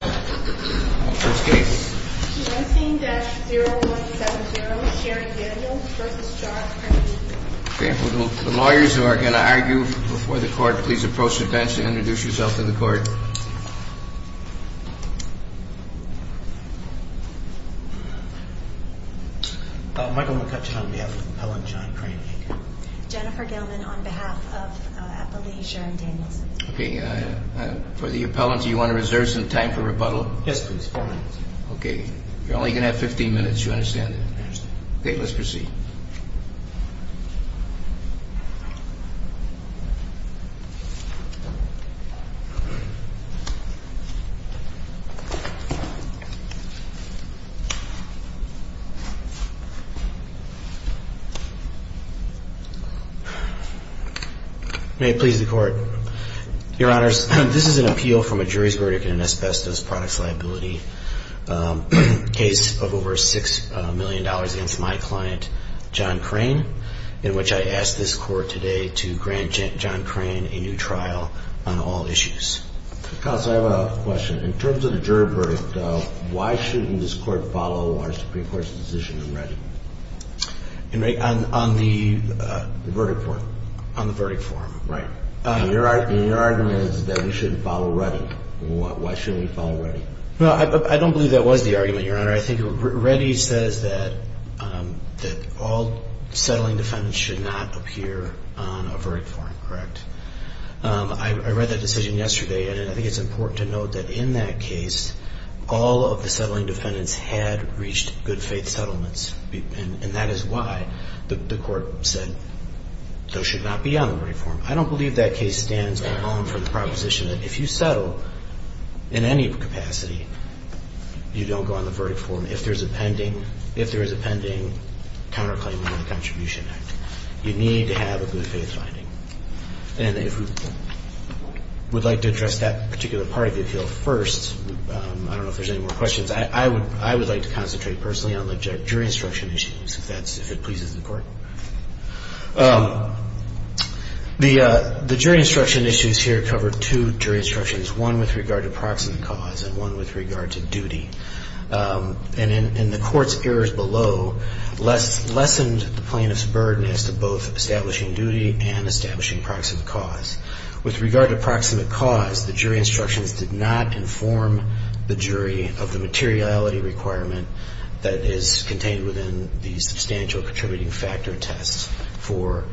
The lawyers who are going to argue before the court, please approach the bench and introduce yourself to the court. Michael McCutcheon on behalf of Appellant John Crane. Jennifer Gilman on behalf of Appellate Sharon Daniels. Okay, for the appellant, do you want to reserve some time for rebuttal? Yes, please. Okay, you're only going to have 15 minutes, you understand? Okay, let's proceed. May it please the court. Your honors, this is an appeal from a jury's verdict in an asbestos products liability case of over $6 million against my client, John Crane, in which I ask this court today to grant John Crane a new trial on all issues. Counsel, I have a question. In terms of the jury verdict, why shouldn't this court follow our Supreme Court's decision in writing? In writing? On the verdict form. On the verdict form, right. Your argument is that we shouldn't follow Reddy. Why shouldn't we follow Reddy? Well, I don't believe that was the argument, your honor. I think Reddy says that all settling defendants should not appear on a verdict form, correct? I read that decision yesterday, and I think it's important to note that in that case, all of the settling defendants had reached good faith settlements. And that is why the court said those should not be on the verdict form. I don't believe that case stands alone for the proposition that if you settle in any capacity, you don't go on the verdict form if there is a pending counterclaim under the Contribution Act. You need to have a good faith finding. And if we would like to address that particular part of the appeal first, I don't know if there's any more questions. I would like to concentrate personally on the jury instruction issues, if that's, if it pleases the Court. The jury instruction issues here cover two jury instructions, one with regard to proximate cause and one with regard to duty. And in the Court's errors below lessened the plaintiff's burden as to both establishing duty and establishing proximate cause. With regard to proximate cause, the jury instructions did not inform the jury of the materiality requirement that is contained within the substantial contributing factor test for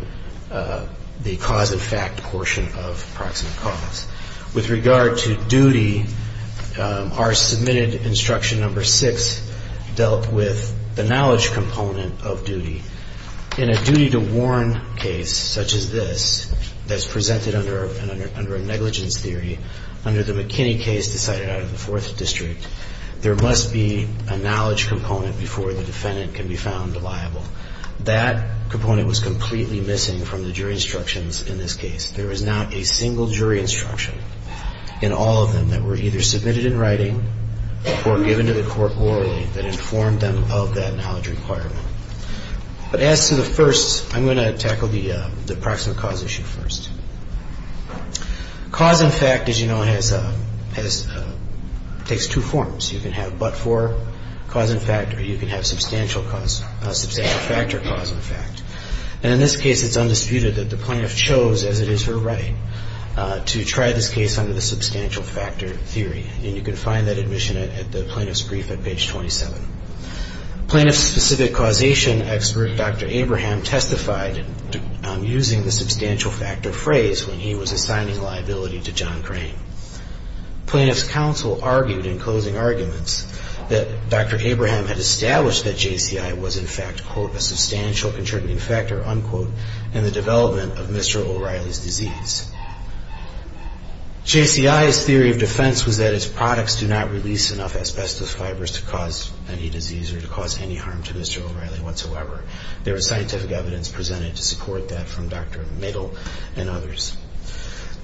the cause of fact portion of proximate cause. With regard to duty, our submitted instruction number six dealt with the knowledge component of duty. In a duty to warn case such as this that's presented under a negligence theory, under the McKinney case decided out of the Fourth District, there must be a knowledge component before the defendant can be found liable. That component was completely missing from the jury instructions in this case. There is not a single jury instruction in all of them that were either submitted in writing or given to the Court orally that informed them of that knowledge requirement. But as to the first, I'm going to tackle the proximate cause issue first. Cause and fact, as you know, has, takes two forms. You can have but-for cause and fact or you can have substantial cause, substantial factor cause and fact. And in this case, it's undisputed that the plaintiff chose, as it is her right, to try this case under the substantial factor theory. And you can find that admission at the plaintiff's brief at page 27. Plaintiff's specific causation expert, Dr. Abraham, testified using the substantial factor phrase when he was assigning liability to John Crane. Plaintiff's counsel argued in closing arguments that Dr. Abraham had established that JCI was in fact, quote, a substantial contributing factor, unquote, in the development of Mr. O'Reilly's disease. JCI's theory of defense was that its products do not release enough asbestos fibers to cause any disease or to cause any harm to Mr. O'Reilly whatsoever. There was scientific evidence presented to support that from Dr. Middle and others.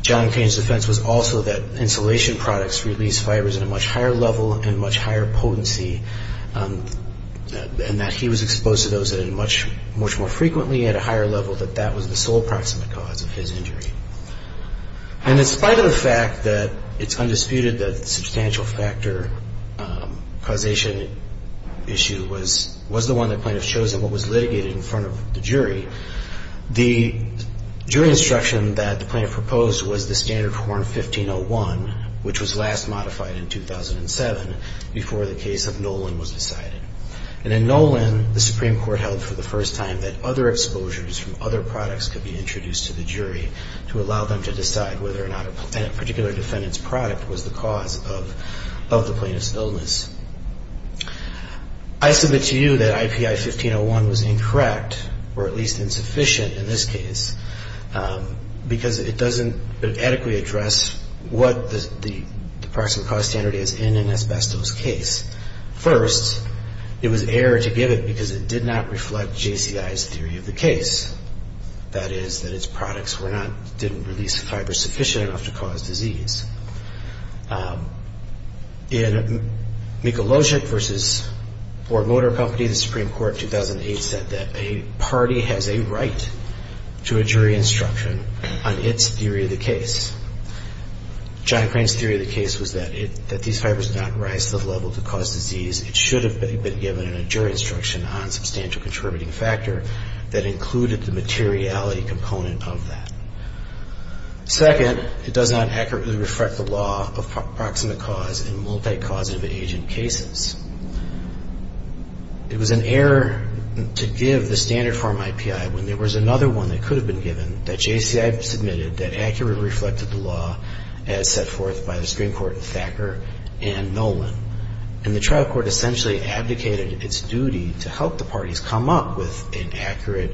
John Crane's defense was also that insulation products release fibers at a much higher level and much higher potency and that he was exposed to those much more frequently at a higher level, that that was the sole proximate cause of his injury. And in spite of the fact that it's undisputed that the substantial factor causation issue was the one the plaintiff chose and what was litigated in front of the jury, the jury instruction that the plaintiff proposed was the standard Horn 1501, which was last modified in 2007 before the case of Nolan was decided. And in Nolan, the Supreme Court held for the first time that other exposures from other products could be introduced to the jury to allow them to decide whether or not a particular defendant's product was the cause of the plaintiff's illness. I submit to you that IPI 1501 was incorrect, or at least insufficient in this case, because it doesn't adequately address what the proximate cause standard is in an asbestos case. First, it was error to give it because it did not reflect JCI's theory of the case, that is that its products were not, didn't release fibers sufficient enough to cause disease. In Mikulojik v. Ford Motor Company, the Supreme Court in 2008 said that a party has a right to a jury instruction on its theory of the case. John Crane's theory of the case was that these fibers did not rise to the level to cause disease. It should have been given in a jury instruction on substantial contributing factor that included the materiality component of that. Second, it does not accurately reflect the law of proximate cause in multi-causative agent cases. It was an error to give the standard form IPI when there was another one that could have been given that JCI submitted that accurately reflected the law as set forth by the Supreme Court in Thacker and Nolan. And the trial court essentially abdicated its duty to help the parties come up with an accurate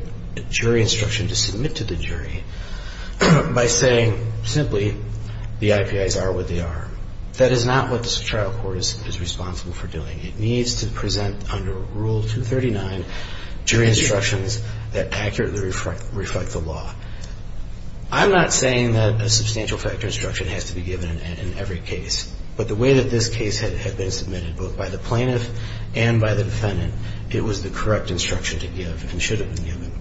jury instruction to submit to the jury by saying simply the IPIs are what they are. That is not what the trial court is responsible for doing. It needs to present under Rule 239 jury instructions that accurately reflect the law. I'm not saying that a substantial factor instruction has to be given in every case, but the way that this case had been submitted both by the plaintiff and by the defendant, it was the correct instruction to give and should have been given.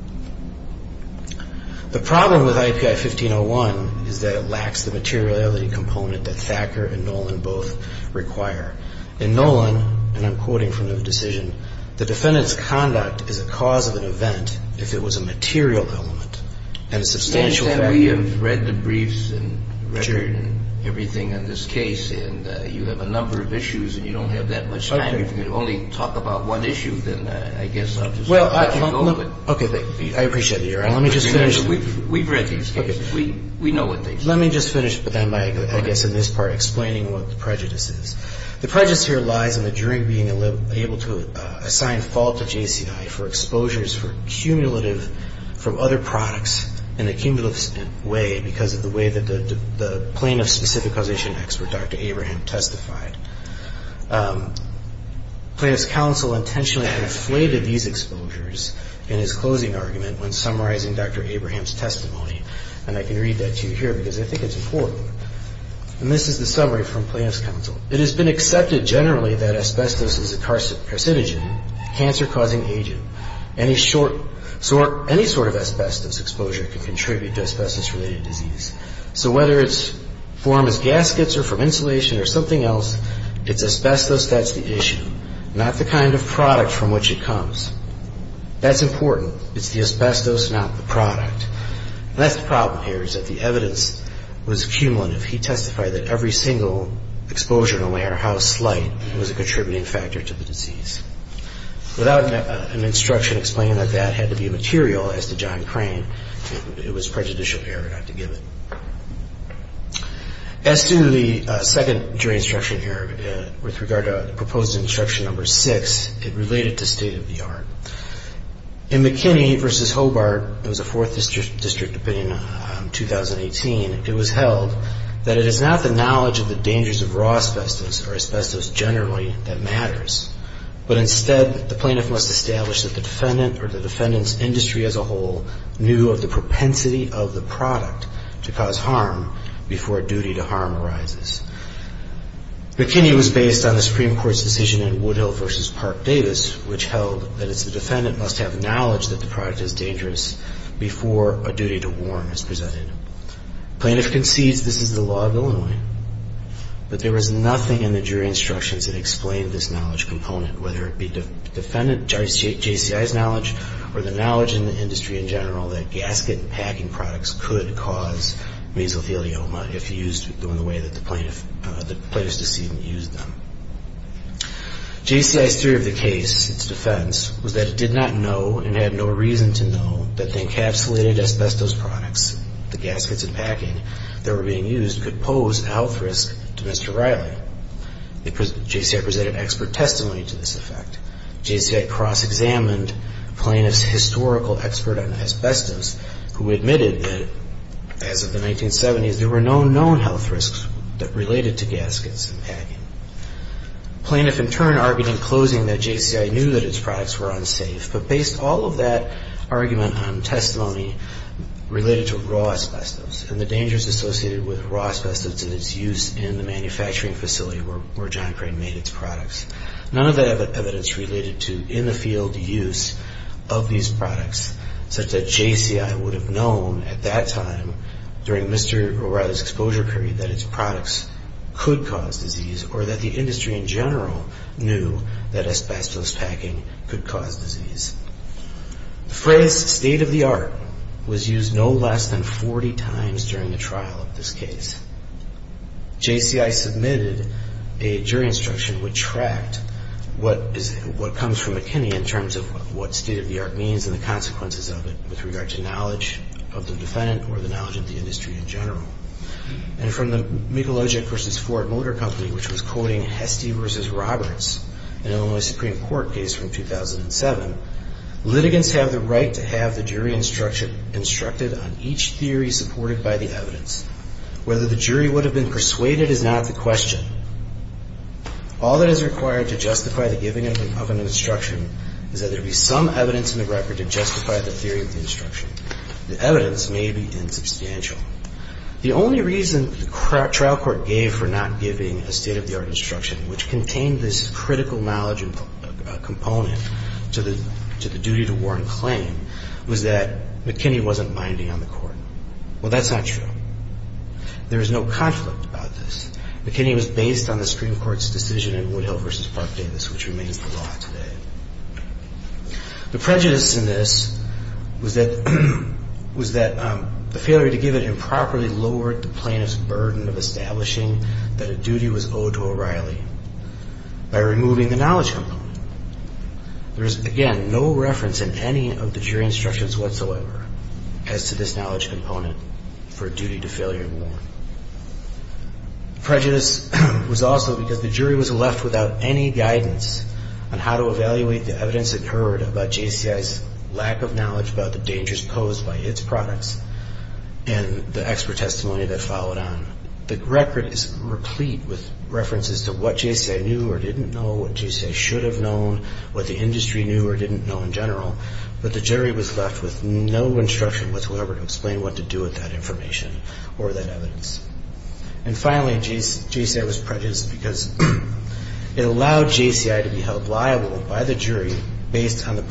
The problem with IPI 1501 is that it lacks the materiality component that Thacker and Nolan both require. In Nolan, and I'm quoting from the decision, the defendant's conduct is a cause of an event if it was a material element and a substantial factor. We have read the briefs and record and everything on this case. And you have a number of issues and you don't have that much time. If you could only talk about one issue, then I guess I'll just let you go. Okay. I appreciate that, Your Honor. Let me just finish. We've read these cases. We know what they say. Let me just finish then by, I guess, in this part explaining what the prejudice is. The prejudice here lies in the jury being able to assign fault to JCI for exposures for cumulative from other products in a cumulative way because of the way that the plaintiff's specific causation expert, Dr. Abraham, testified. Plaintiff's counsel intentionally inflated these exposures in his closing argument when summarizing Dr. Abraham's testimony. And I can read that to you here because I think it's important. It has been accepted generally that asbestos is a carcinogen, a cancer-causing agent. Any sort of asbestos exposure can contribute to asbestos-related disease. So whether it's formed as gaskets or from insulation or something else, it's asbestos that's the issue, not the kind of product from which it comes. That's important. It's the asbestos, not the product. And that's the problem here is that the evidence was cumulative. He testified that every single exposure, no matter how slight, was a contributing factor to the disease. Without an instruction explaining that that had to be material, as to John Crane, it was prejudicial error not to give it. As to the second jury instruction error with regard to proposed instruction number six, it related to state-of-the-art. In McKinney v. Hobart, there was a fourth district opinion in 2018. It was held that it is not the knowledge of the dangers of raw asbestos or asbestos generally that matters, but instead the plaintiff must establish that the defendant or the defendant's industry as a whole knew of the propensity of the product to cause harm before a duty to harm arises. McKinney was based on the Supreme Court's decision in Woodhill v. Park-Davis, which held that it's the defendant must have knowledge that the product is dangerous before a duty to harm is presented. The plaintiff concedes this is the law of Illinois, but there was nothing in the jury instructions that explained this knowledge component, whether it be the defendant, JCI's knowledge, or the knowledge in the industry in general that gasket and packing products could cause mesothelioma if used in the way that the plaintiff's decision used them. JCI's theory of the case, its defense, was that it did not know and had no reason to know that the encapsulated asbestos products, the gaskets and packing that were being used, could pose a health risk to Mr. Riley. JCI presented expert testimony to this effect. JCI cross-examined the plaintiff's historical expert on asbestos, who admitted that, as of the 1970s, there were no known health risks that related to gaskets and packing. The plaintiff, in turn, argued in closing that JCI knew that its products were unsafe, but based all of that argument on testimony related to raw asbestos and the dangers associated with raw asbestos and its use in the manufacturing facility where John Crane made its products. None of that evidence related to in-the-field use of these products, such that JCI would have known at that time, during Mr. Riley's exposure period, that its products could cause disease, or that the industry in general knew that asbestos packing could cause disease. The phrase, state of the art, was used no less than 40 times during the trial of this case. JCI submitted a jury instruction which tracked what comes from McKinney in terms of what state of the art means and the consequences of it with regard to knowledge of the defendant or the knowledge of the industry in general. And from the Mikulajic v. Ford Motor Company, which was quoting Hestey v. Roberts, in Illinois Supreme Court case from 2007, litigants have the right to have the jury instructed on each theory supported by the evidence, whether the jury would have been persuaded is not the question. All that is required to justify the giving of an instruction is that there be some evidence in the record to justify the theory of the instruction. The evidence may be insubstantial. The only reason the trial court gave for not giving a state of the art instruction, which contained this critical knowledge component to the duty to warrant claim, was that McKinney wasn't binding on the court. Well, that's not true. There is no conflict about this. McKinney was based on the Supreme Court's decision in Woodhill v. Park Davis, which remains the law today. The prejudice in this was that the failure to give it improperly lowered the plaintiff's burden of establishing that a duty was owed to O'Reilly by removing the knowledge component. There is, again, no reference in any of the jury instructions whatsoever as to this knowledge component for a duty to failure to warrant. Prejudice was also because the jury was left without any guidance on how to evaluate the evidence incurred about JCI's lack of knowledge about the dangers posed by its products and the expert testimony that followed on. The record is replete with references to what JCI knew or didn't know, what JCI should have known, what the industry knew or didn't know in general, but the jury was left with no instruction whatsoever to explain what to do with that information or that evidence. And finally, JCI was prejudiced because it allowed JCI to be held liable by the jury based on the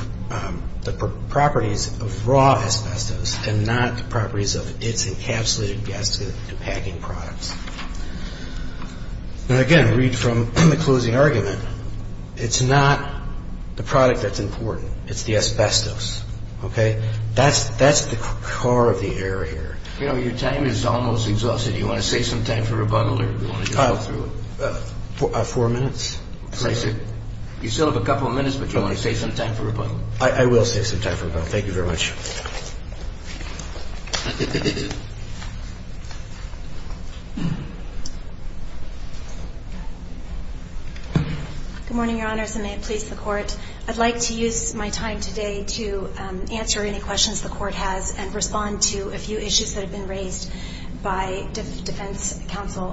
properties of raw asbestos and not the properties of its encapsulated gas-packing products. Now, again, read from the closing argument. It's not the product that's important. It's the asbestos, okay? That's the core of the error here. You know, your time is almost exhausted. Do you want to save some time for rebuttal or do you want to go through it? Four minutes. You still have a couple of minutes, but do you want to save some time for rebuttal? I will save some time for rebuttal. Thank you very much. Good morning, Your Honors, and may it please the Court. I'd like to use my time today to answer any questions the Court has and respond to a few issues that have been raised by defense counsel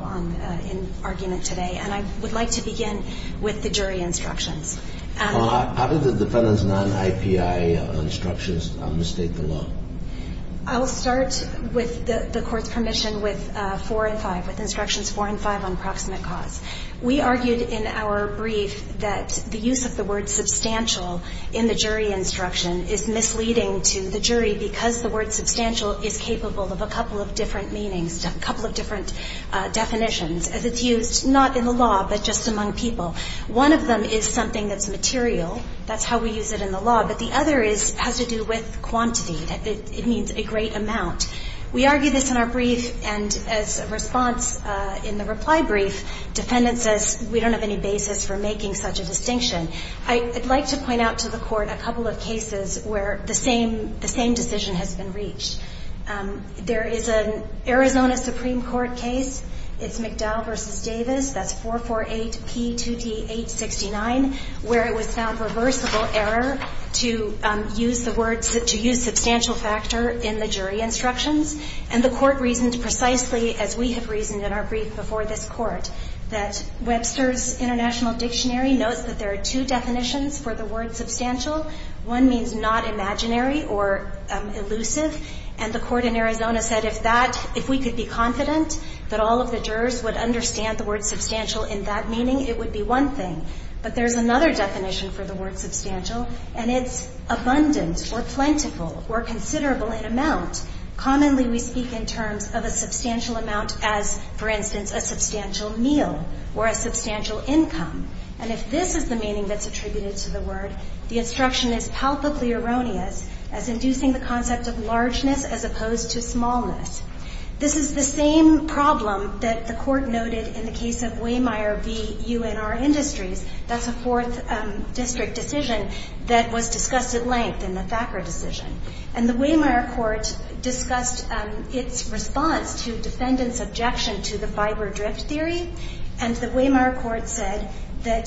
in argument today. And I would like to begin with the jury instructions. How did the defendant's non-IPI instructions mistake the law? I will start with the Court's permission with 4 and 5, with instructions 4 and 5 on proximate cause. We argued in our brief that the use of the word substantial in the jury instruction is misleading to the jury because the word substantial is capable of a couple of different meanings, a couple of different definitions as it's used not in the law but just among people. One of them is something that's material. That's how we use it in the law. But the other has to do with quantity. It means a great amount. We argue this in our brief, and as a response in the reply brief, defendant says we don't have any basis for making such a distinction. I'd like to point out to the Court a couple of cases where the same decision has been reached. There is an Arizona Supreme Court case. It's McDowell v. Davis. That's 448P2D869, where it was found reversible error to use the word to use substantial factor in the jury instructions. And the Court reasoned precisely, as we have reasoned in our brief before this Court, that Webster's International Dictionary notes that there are two definitions for the word substantial. One means not imaginary or elusive. And the Court in Arizona said if that, if we could be confident that all of the jurors would understand the word substantial in that meaning, it would be one thing. But there's another definition for the word substantial, and it's abundance or plentiful or considerable in amount. Commonly we speak in terms of a substantial amount as, for instance, a substantial meal or a substantial income. And if this is the meaning that's attributed to the word, the instruction is palpably erroneous as inducing the concept of largeness as opposed to smallness. This is the same problem that the Court noted in the case of Waymire v. UNR Industries. That's a Fourth District decision that was discussed at length in the Thacker decision. And the Waymire Court discussed its response to defendants' objection to the fiber drift theory. And the Waymire Court said that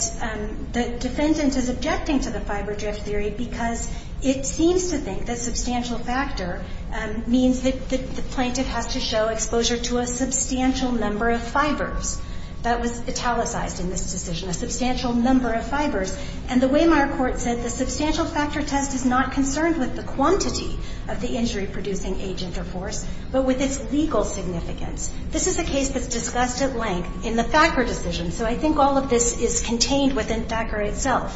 the defendant is objecting to the fiber drift theory because it seems to think that substantial factor means that the plaintiff has to show exposure to a substantial number of fibers. That was italicized in this decision, a substantial number of fibers. And the Waymire Court said the substantial factor test is not concerned with the quantity of the injury-producing agent or force, but with its legal significance. This is a case that's discussed at length in the Thacker decision. So I think all of this is contained within Thacker itself.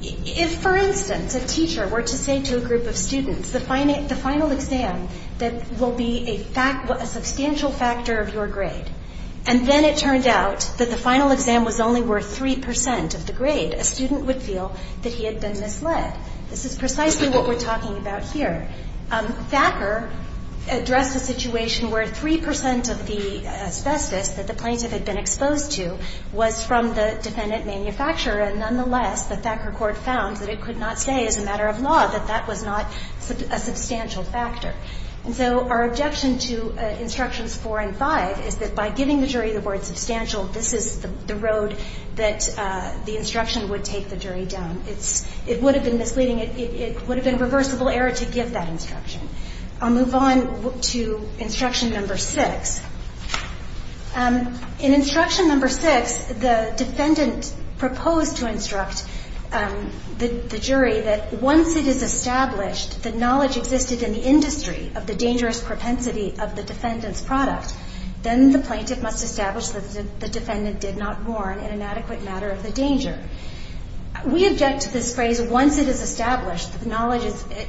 If, for instance, a teacher were to say to a group of students, the final exam that will be a substantial factor of your grade, and then it turned out that the final exam was only worth 3 percent of the grade, a student would feel that he had been misled. This is precisely what we're talking about here. Thacker addressed a situation where 3 percent of the asbestos that the plaintiff had been exposed to was from the defendant manufacturer, and nonetheless, the Thacker Court found that it could not say as a matter of law that that was not a substantial factor. And so our objection to Instructions 4 and 5 is that by giving the jury the word substantial, this is the road that the instruction would take the jury down. It would have been misleading. It would have been a reversible error to give that instruction. I'll move on to Instruction Number 6. In Instruction Number 6, the defendant proposed to instruct the jury that once it is established that the knowledge existed in the industry of the dangerous propensity of the defendant's product, then the plaintiff must establish that the defendant did not warn in an adequate matter of the danger. We object to this phrase, once it is established that the knowledge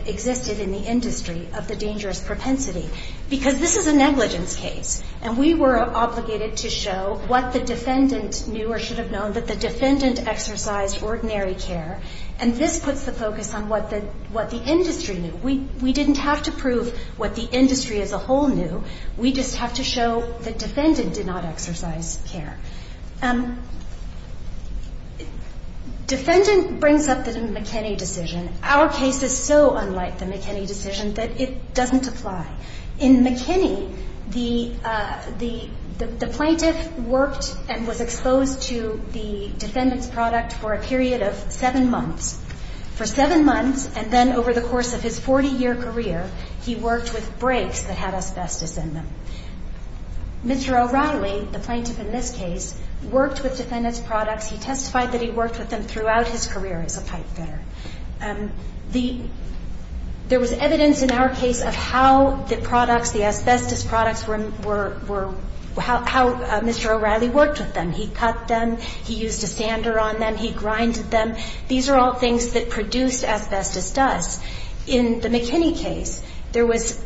existed in the industry of the dangerous propensity, because this is a negligence case, and we were obligated to show what the defendant knew or should have known, that the defendant exercised ordinary care, and this puts the focus on what the industry knew. We didn't have to prove what the industry as a whole knew. We just have to show the defendant did not exercise care. Defendant brings up the McKinney decision. Our case is so unlike the McKinney decision that it doesn't apply. In McKinney, the plaintiff worked and was exposed to the defendant's product for a period of seven months. For seven months, and then over the course of his 40-year career, he worked with brakes that had asbestos in them. Mr. O'Reilly, the plaintiff in this case, worked with defendant's products. He testified that he worked with them throughout his career as a pipefitter. There was evidence in our case of how the products, the asbestos products were how Mr. O'Reilly worked with them. He cut them, he used a sander on them, he grinded them. These are all things that produced asbestos dust. In the McKinney case, there was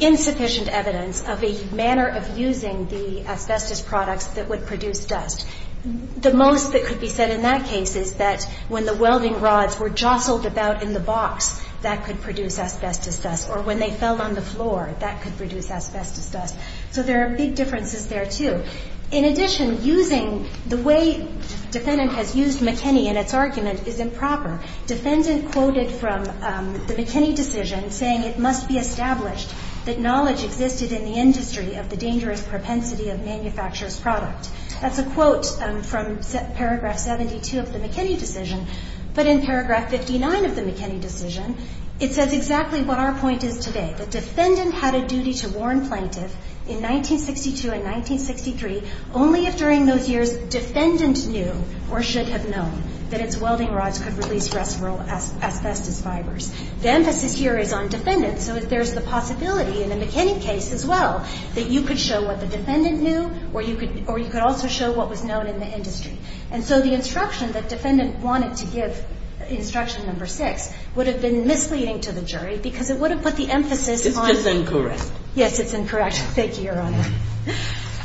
insufficient evidence of a manner of using the asbestos products that would produce dust. The most that could be said in that case is that when the welding rods were jostled about in the box, that could produce asbestos dust. Or when they fell on the floor, that could produce asbestos dust. So there are big differences there, too. In addition, using the way defendant has used McKinney in its argument is improper. Defendant quoted from the McKinney decision saying it must be established that knowledge existed in the industry of the dangerous propensity of manufacturer's product. That's a quote from Paragraph 72 of the McKinney decision. But in Paragraph 59 of the McKinney decision, it says exactly what our point is today. The defendant had a duty to warn plaintiff in 1962 and 1963 only if during those years defendant knew or should have known that its welding rods could release restful asbestos fibers. The emphasis here is on defendant, so there's the possibility in the McKinney case as well that you could show what the defendant knew or you could also show what was known in the industry. And so the instruction that defendant wanted to give, instruction number 6, would have been misleading to the jury because it would have put the emphasis on the defendant. Kagan. It's just incorrect. Yes, it's incorrect. Thank you, Your Honor.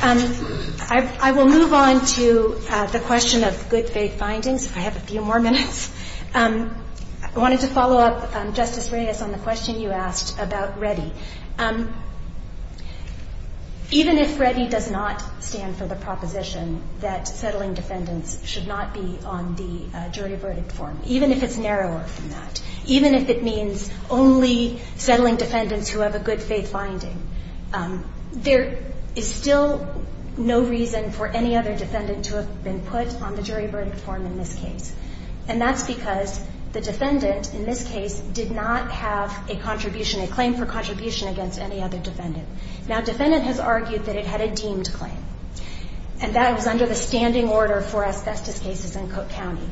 I will move on to the question of good faith findings. I have a few more minutes. I wanted to follow up, Justice Reyes, on the question you asked about Reddy. Even if Reddy does not stand for the proposition that settling defendants should not be on the jury verdict form, even if it's narrower than that, even if it means only settling defendants who have a good faith finding, there is still no reason for any other defendant to have been put on the jury verdict form in this case. And that's because the defendant in this case did not have a contribution, a claim for contribution against any other defendant. Now, defendant has argued that it had a deemed claim. And that was under the standing order for asbestos cases in Cook County.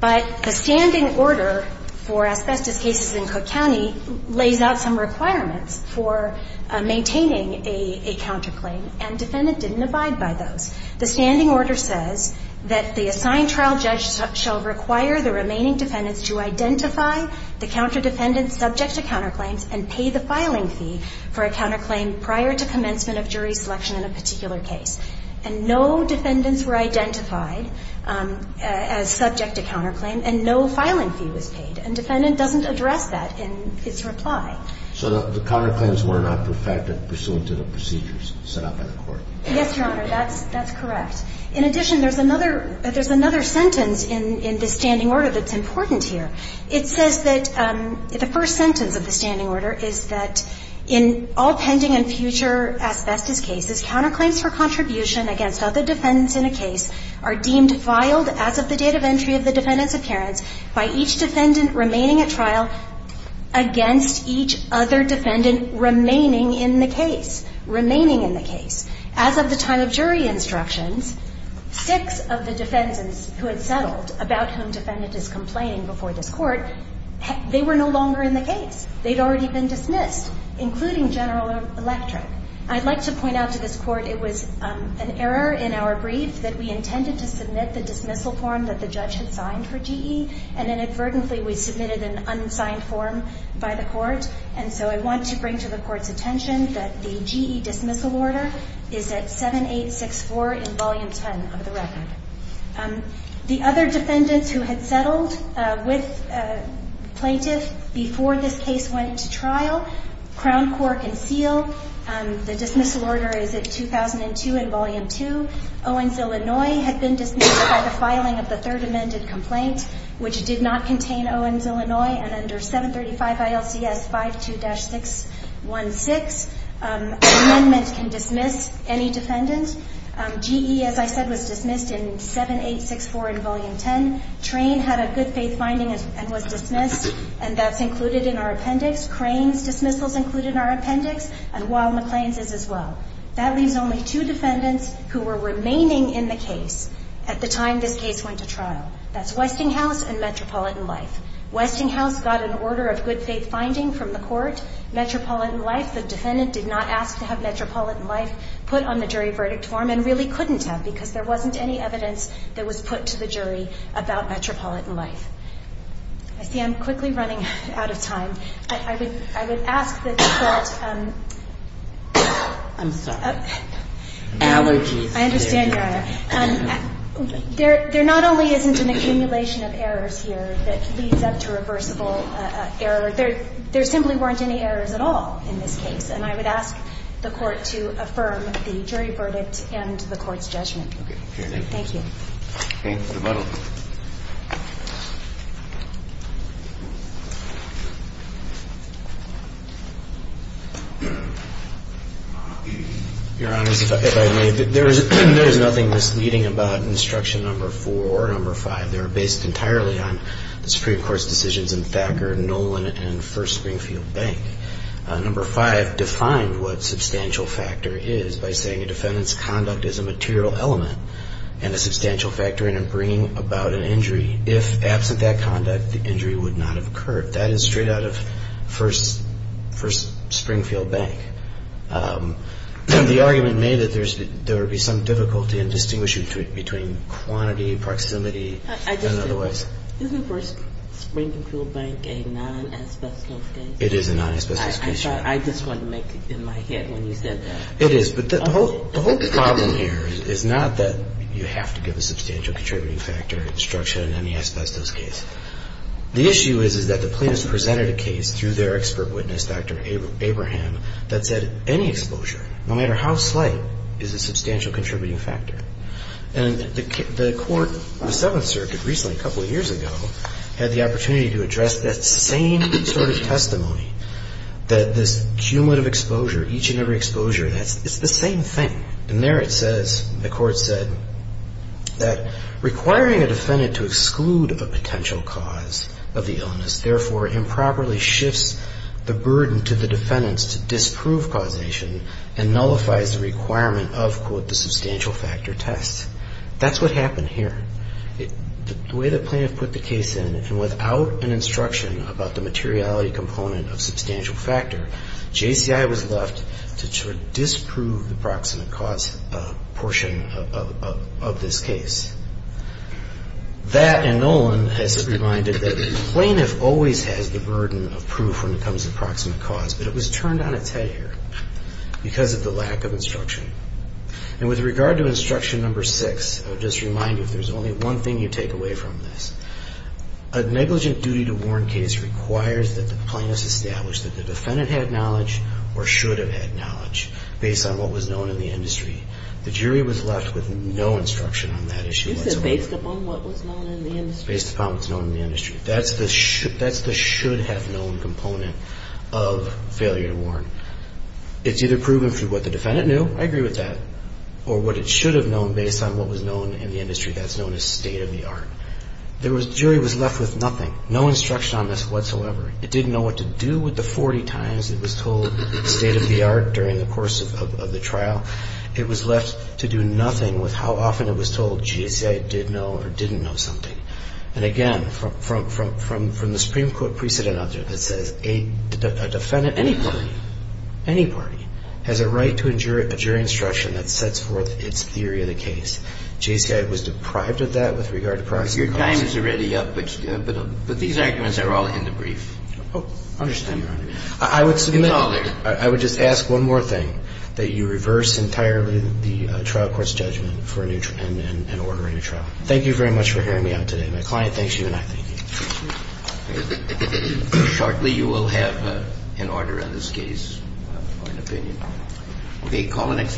But the standing order for asbestos cases in Cook County lays out some requirements for maintaining a counterclaim, and defendant didn't abide by those. The standing order says that the assigned trial judge shall require the remaining defendants to identify the counterdefendant subject to counterclaims and pay the filing fee for a counterclaim prior to commencement of jury selection in a particular case. And no defendants were identified as subject to counterclaim, and no filing fee was paid. And defendant doesn't address that in its reply. So the counterclaims were not perfected pursuant to the procedures set out by the Court. Yes, Your Honor. That's correct. In addition, there's another sentence in this standing order that's important here. It says that the first sentence of the standing order is that, in all pending and future asbestos cases, counterclaims for contribution against other defendants in a case are deemed filed as of the date of entry of the defendant's appearance by each defendant remaining at trial against each other defendant remaining in the case, remaining in the case. As of the time of jury instructions, six of the defendants who had settled about whom defendant is complaining before this Court, they were no longer in the case. They'd already been dismissed, including General Electric. I'd like to point out to this Court it was an error in our brief that we intended to submit the dismissal form that the judge had signed for GE, and inadvertently we submitted an unsigned form by the Court. And so I want to bring to the Court's attention that the GE dismissal order is at 7864 in Volume 10 of the record. The other defendants who had settled with plaintiffs before this case went to trial, Crown Court and Seal, the dismissal order is at 2002 in Volume 2. Owens, Illinois, had been dismissed by the filing of the third amended complaint, which did not contain Owens, Illinois, and under 735 ILCS 52-616. Amendment can dismiss any defendant. GE, as I said, was dismissed in 7864 in Volume 10. Train had a good faith finding and was dismissed, and that's included in our appendix. Crane's dismissal is included in our appendix, and Wild McClain's is as well. That leaves only two defendants who were remaining in the case at the time this case went to trial. That's Westinghouse and Metropolitan Life. Westinghouse got an order of good faith finding from the Court. Metropolitan Life, the defendant did not ask to have Metropolitan Life put on the jury verdict form and really couldn't have because there wasn't any evidence that was put to the jury about Metropolitan Life. I see I'm quickly running out of time. I would ask that the Court ---- I'm sorry. Allergies. I understand, Your Honor. There not only isn't an accumulation of errors here that leads up to reversible error, there simply weren't any errors at all in this case, and I would ask the Court to affirm the jury verdict and the Court's judgment. Thank you. Your Honor, if I may, there is nothing misleading about instruction number 4 or number 5. They are based entirely on the Supreme Court's decisions in Thacker, Nolan, and First Springfield Bank. Number 5 defined what substantial factor is by saying a defendant's conduct is a Number 4, the defendant's conduct is a material element. about an injury, if absent that conduct, the injury would not have occurred. That is straight out of First Springfield Bank. The argument made that there would be some difficulty in distinguishing between quantity, proximity, and otherwise. Isn't First Springfield Bank a non-asbestos case? It is a non-asbestos case, Your Honor. I just wanted to make it in my head when you said that. It is, but the whole problem here is not that you have to give a substantial contributing factor instruction in any asbestos case. The issue is that the plaintiffs presented a case through their expert witness, Dr. Abraham, that said any exposure, no matter how slight, is a substantial contributing factor. And the Court, the Seventh Circuit, recently, a couple of years ago, had the opportunity to address that same sort of testimony, that this cumulative exposure, each and every exposure, it's the same thing. And there it says, the Court said, that requiring a defendant to exclude a potential cause of the illness, therefore, improperly shifts the burden to the defendants to disprove causation and nullifies the requirement of, quote, the substantial factor test. That's what happened here. The way the plaintiff put the case in, and without an instruction about the proximate cause portion of this case, that and Nolan has reminded that the plaintiff always has the burden of proof when it comes to the proximate cause, but it was turned on its head here because of the lack of instruction. And with regard to instruction number six, I would just remind you, if there's only one thing you take away from this, a negligent duty to warn case requires that the plaintiff establish that the defendant had knowledge or should have had knowledge based on what was known in the industry. The jury was left with no instruction on that issue whatsoever. You said based upon what was known in the industry. Based upon what's known in the industry. That's the should-have-known component of failure to warn. It's either proven through what the defendant knew, I agree with that, or what it should have known based on what was known in the industry. That's known as state-of-the-art. The jury was left with nothing. No instruction on this whatsoever. It didn't know what to do with the 40 times it was told state-of-the-art during the course of the trial. It was left to do nothing with how often it was told GSA did know or didn't know something. And, again, from the Supreme Court precedent object, it says a defendant, any party, any party, has a right to a jury instruction that sets forth its theory of the case. they were given a superior opinion of the case. JSCI was deprived of that with regard to archives and records. Your time is already up, but these arguments are all in the brief. Understand, Your Honor. Is all there. I would submit... I would just ask one more thing, that you reverse entirely the trial court's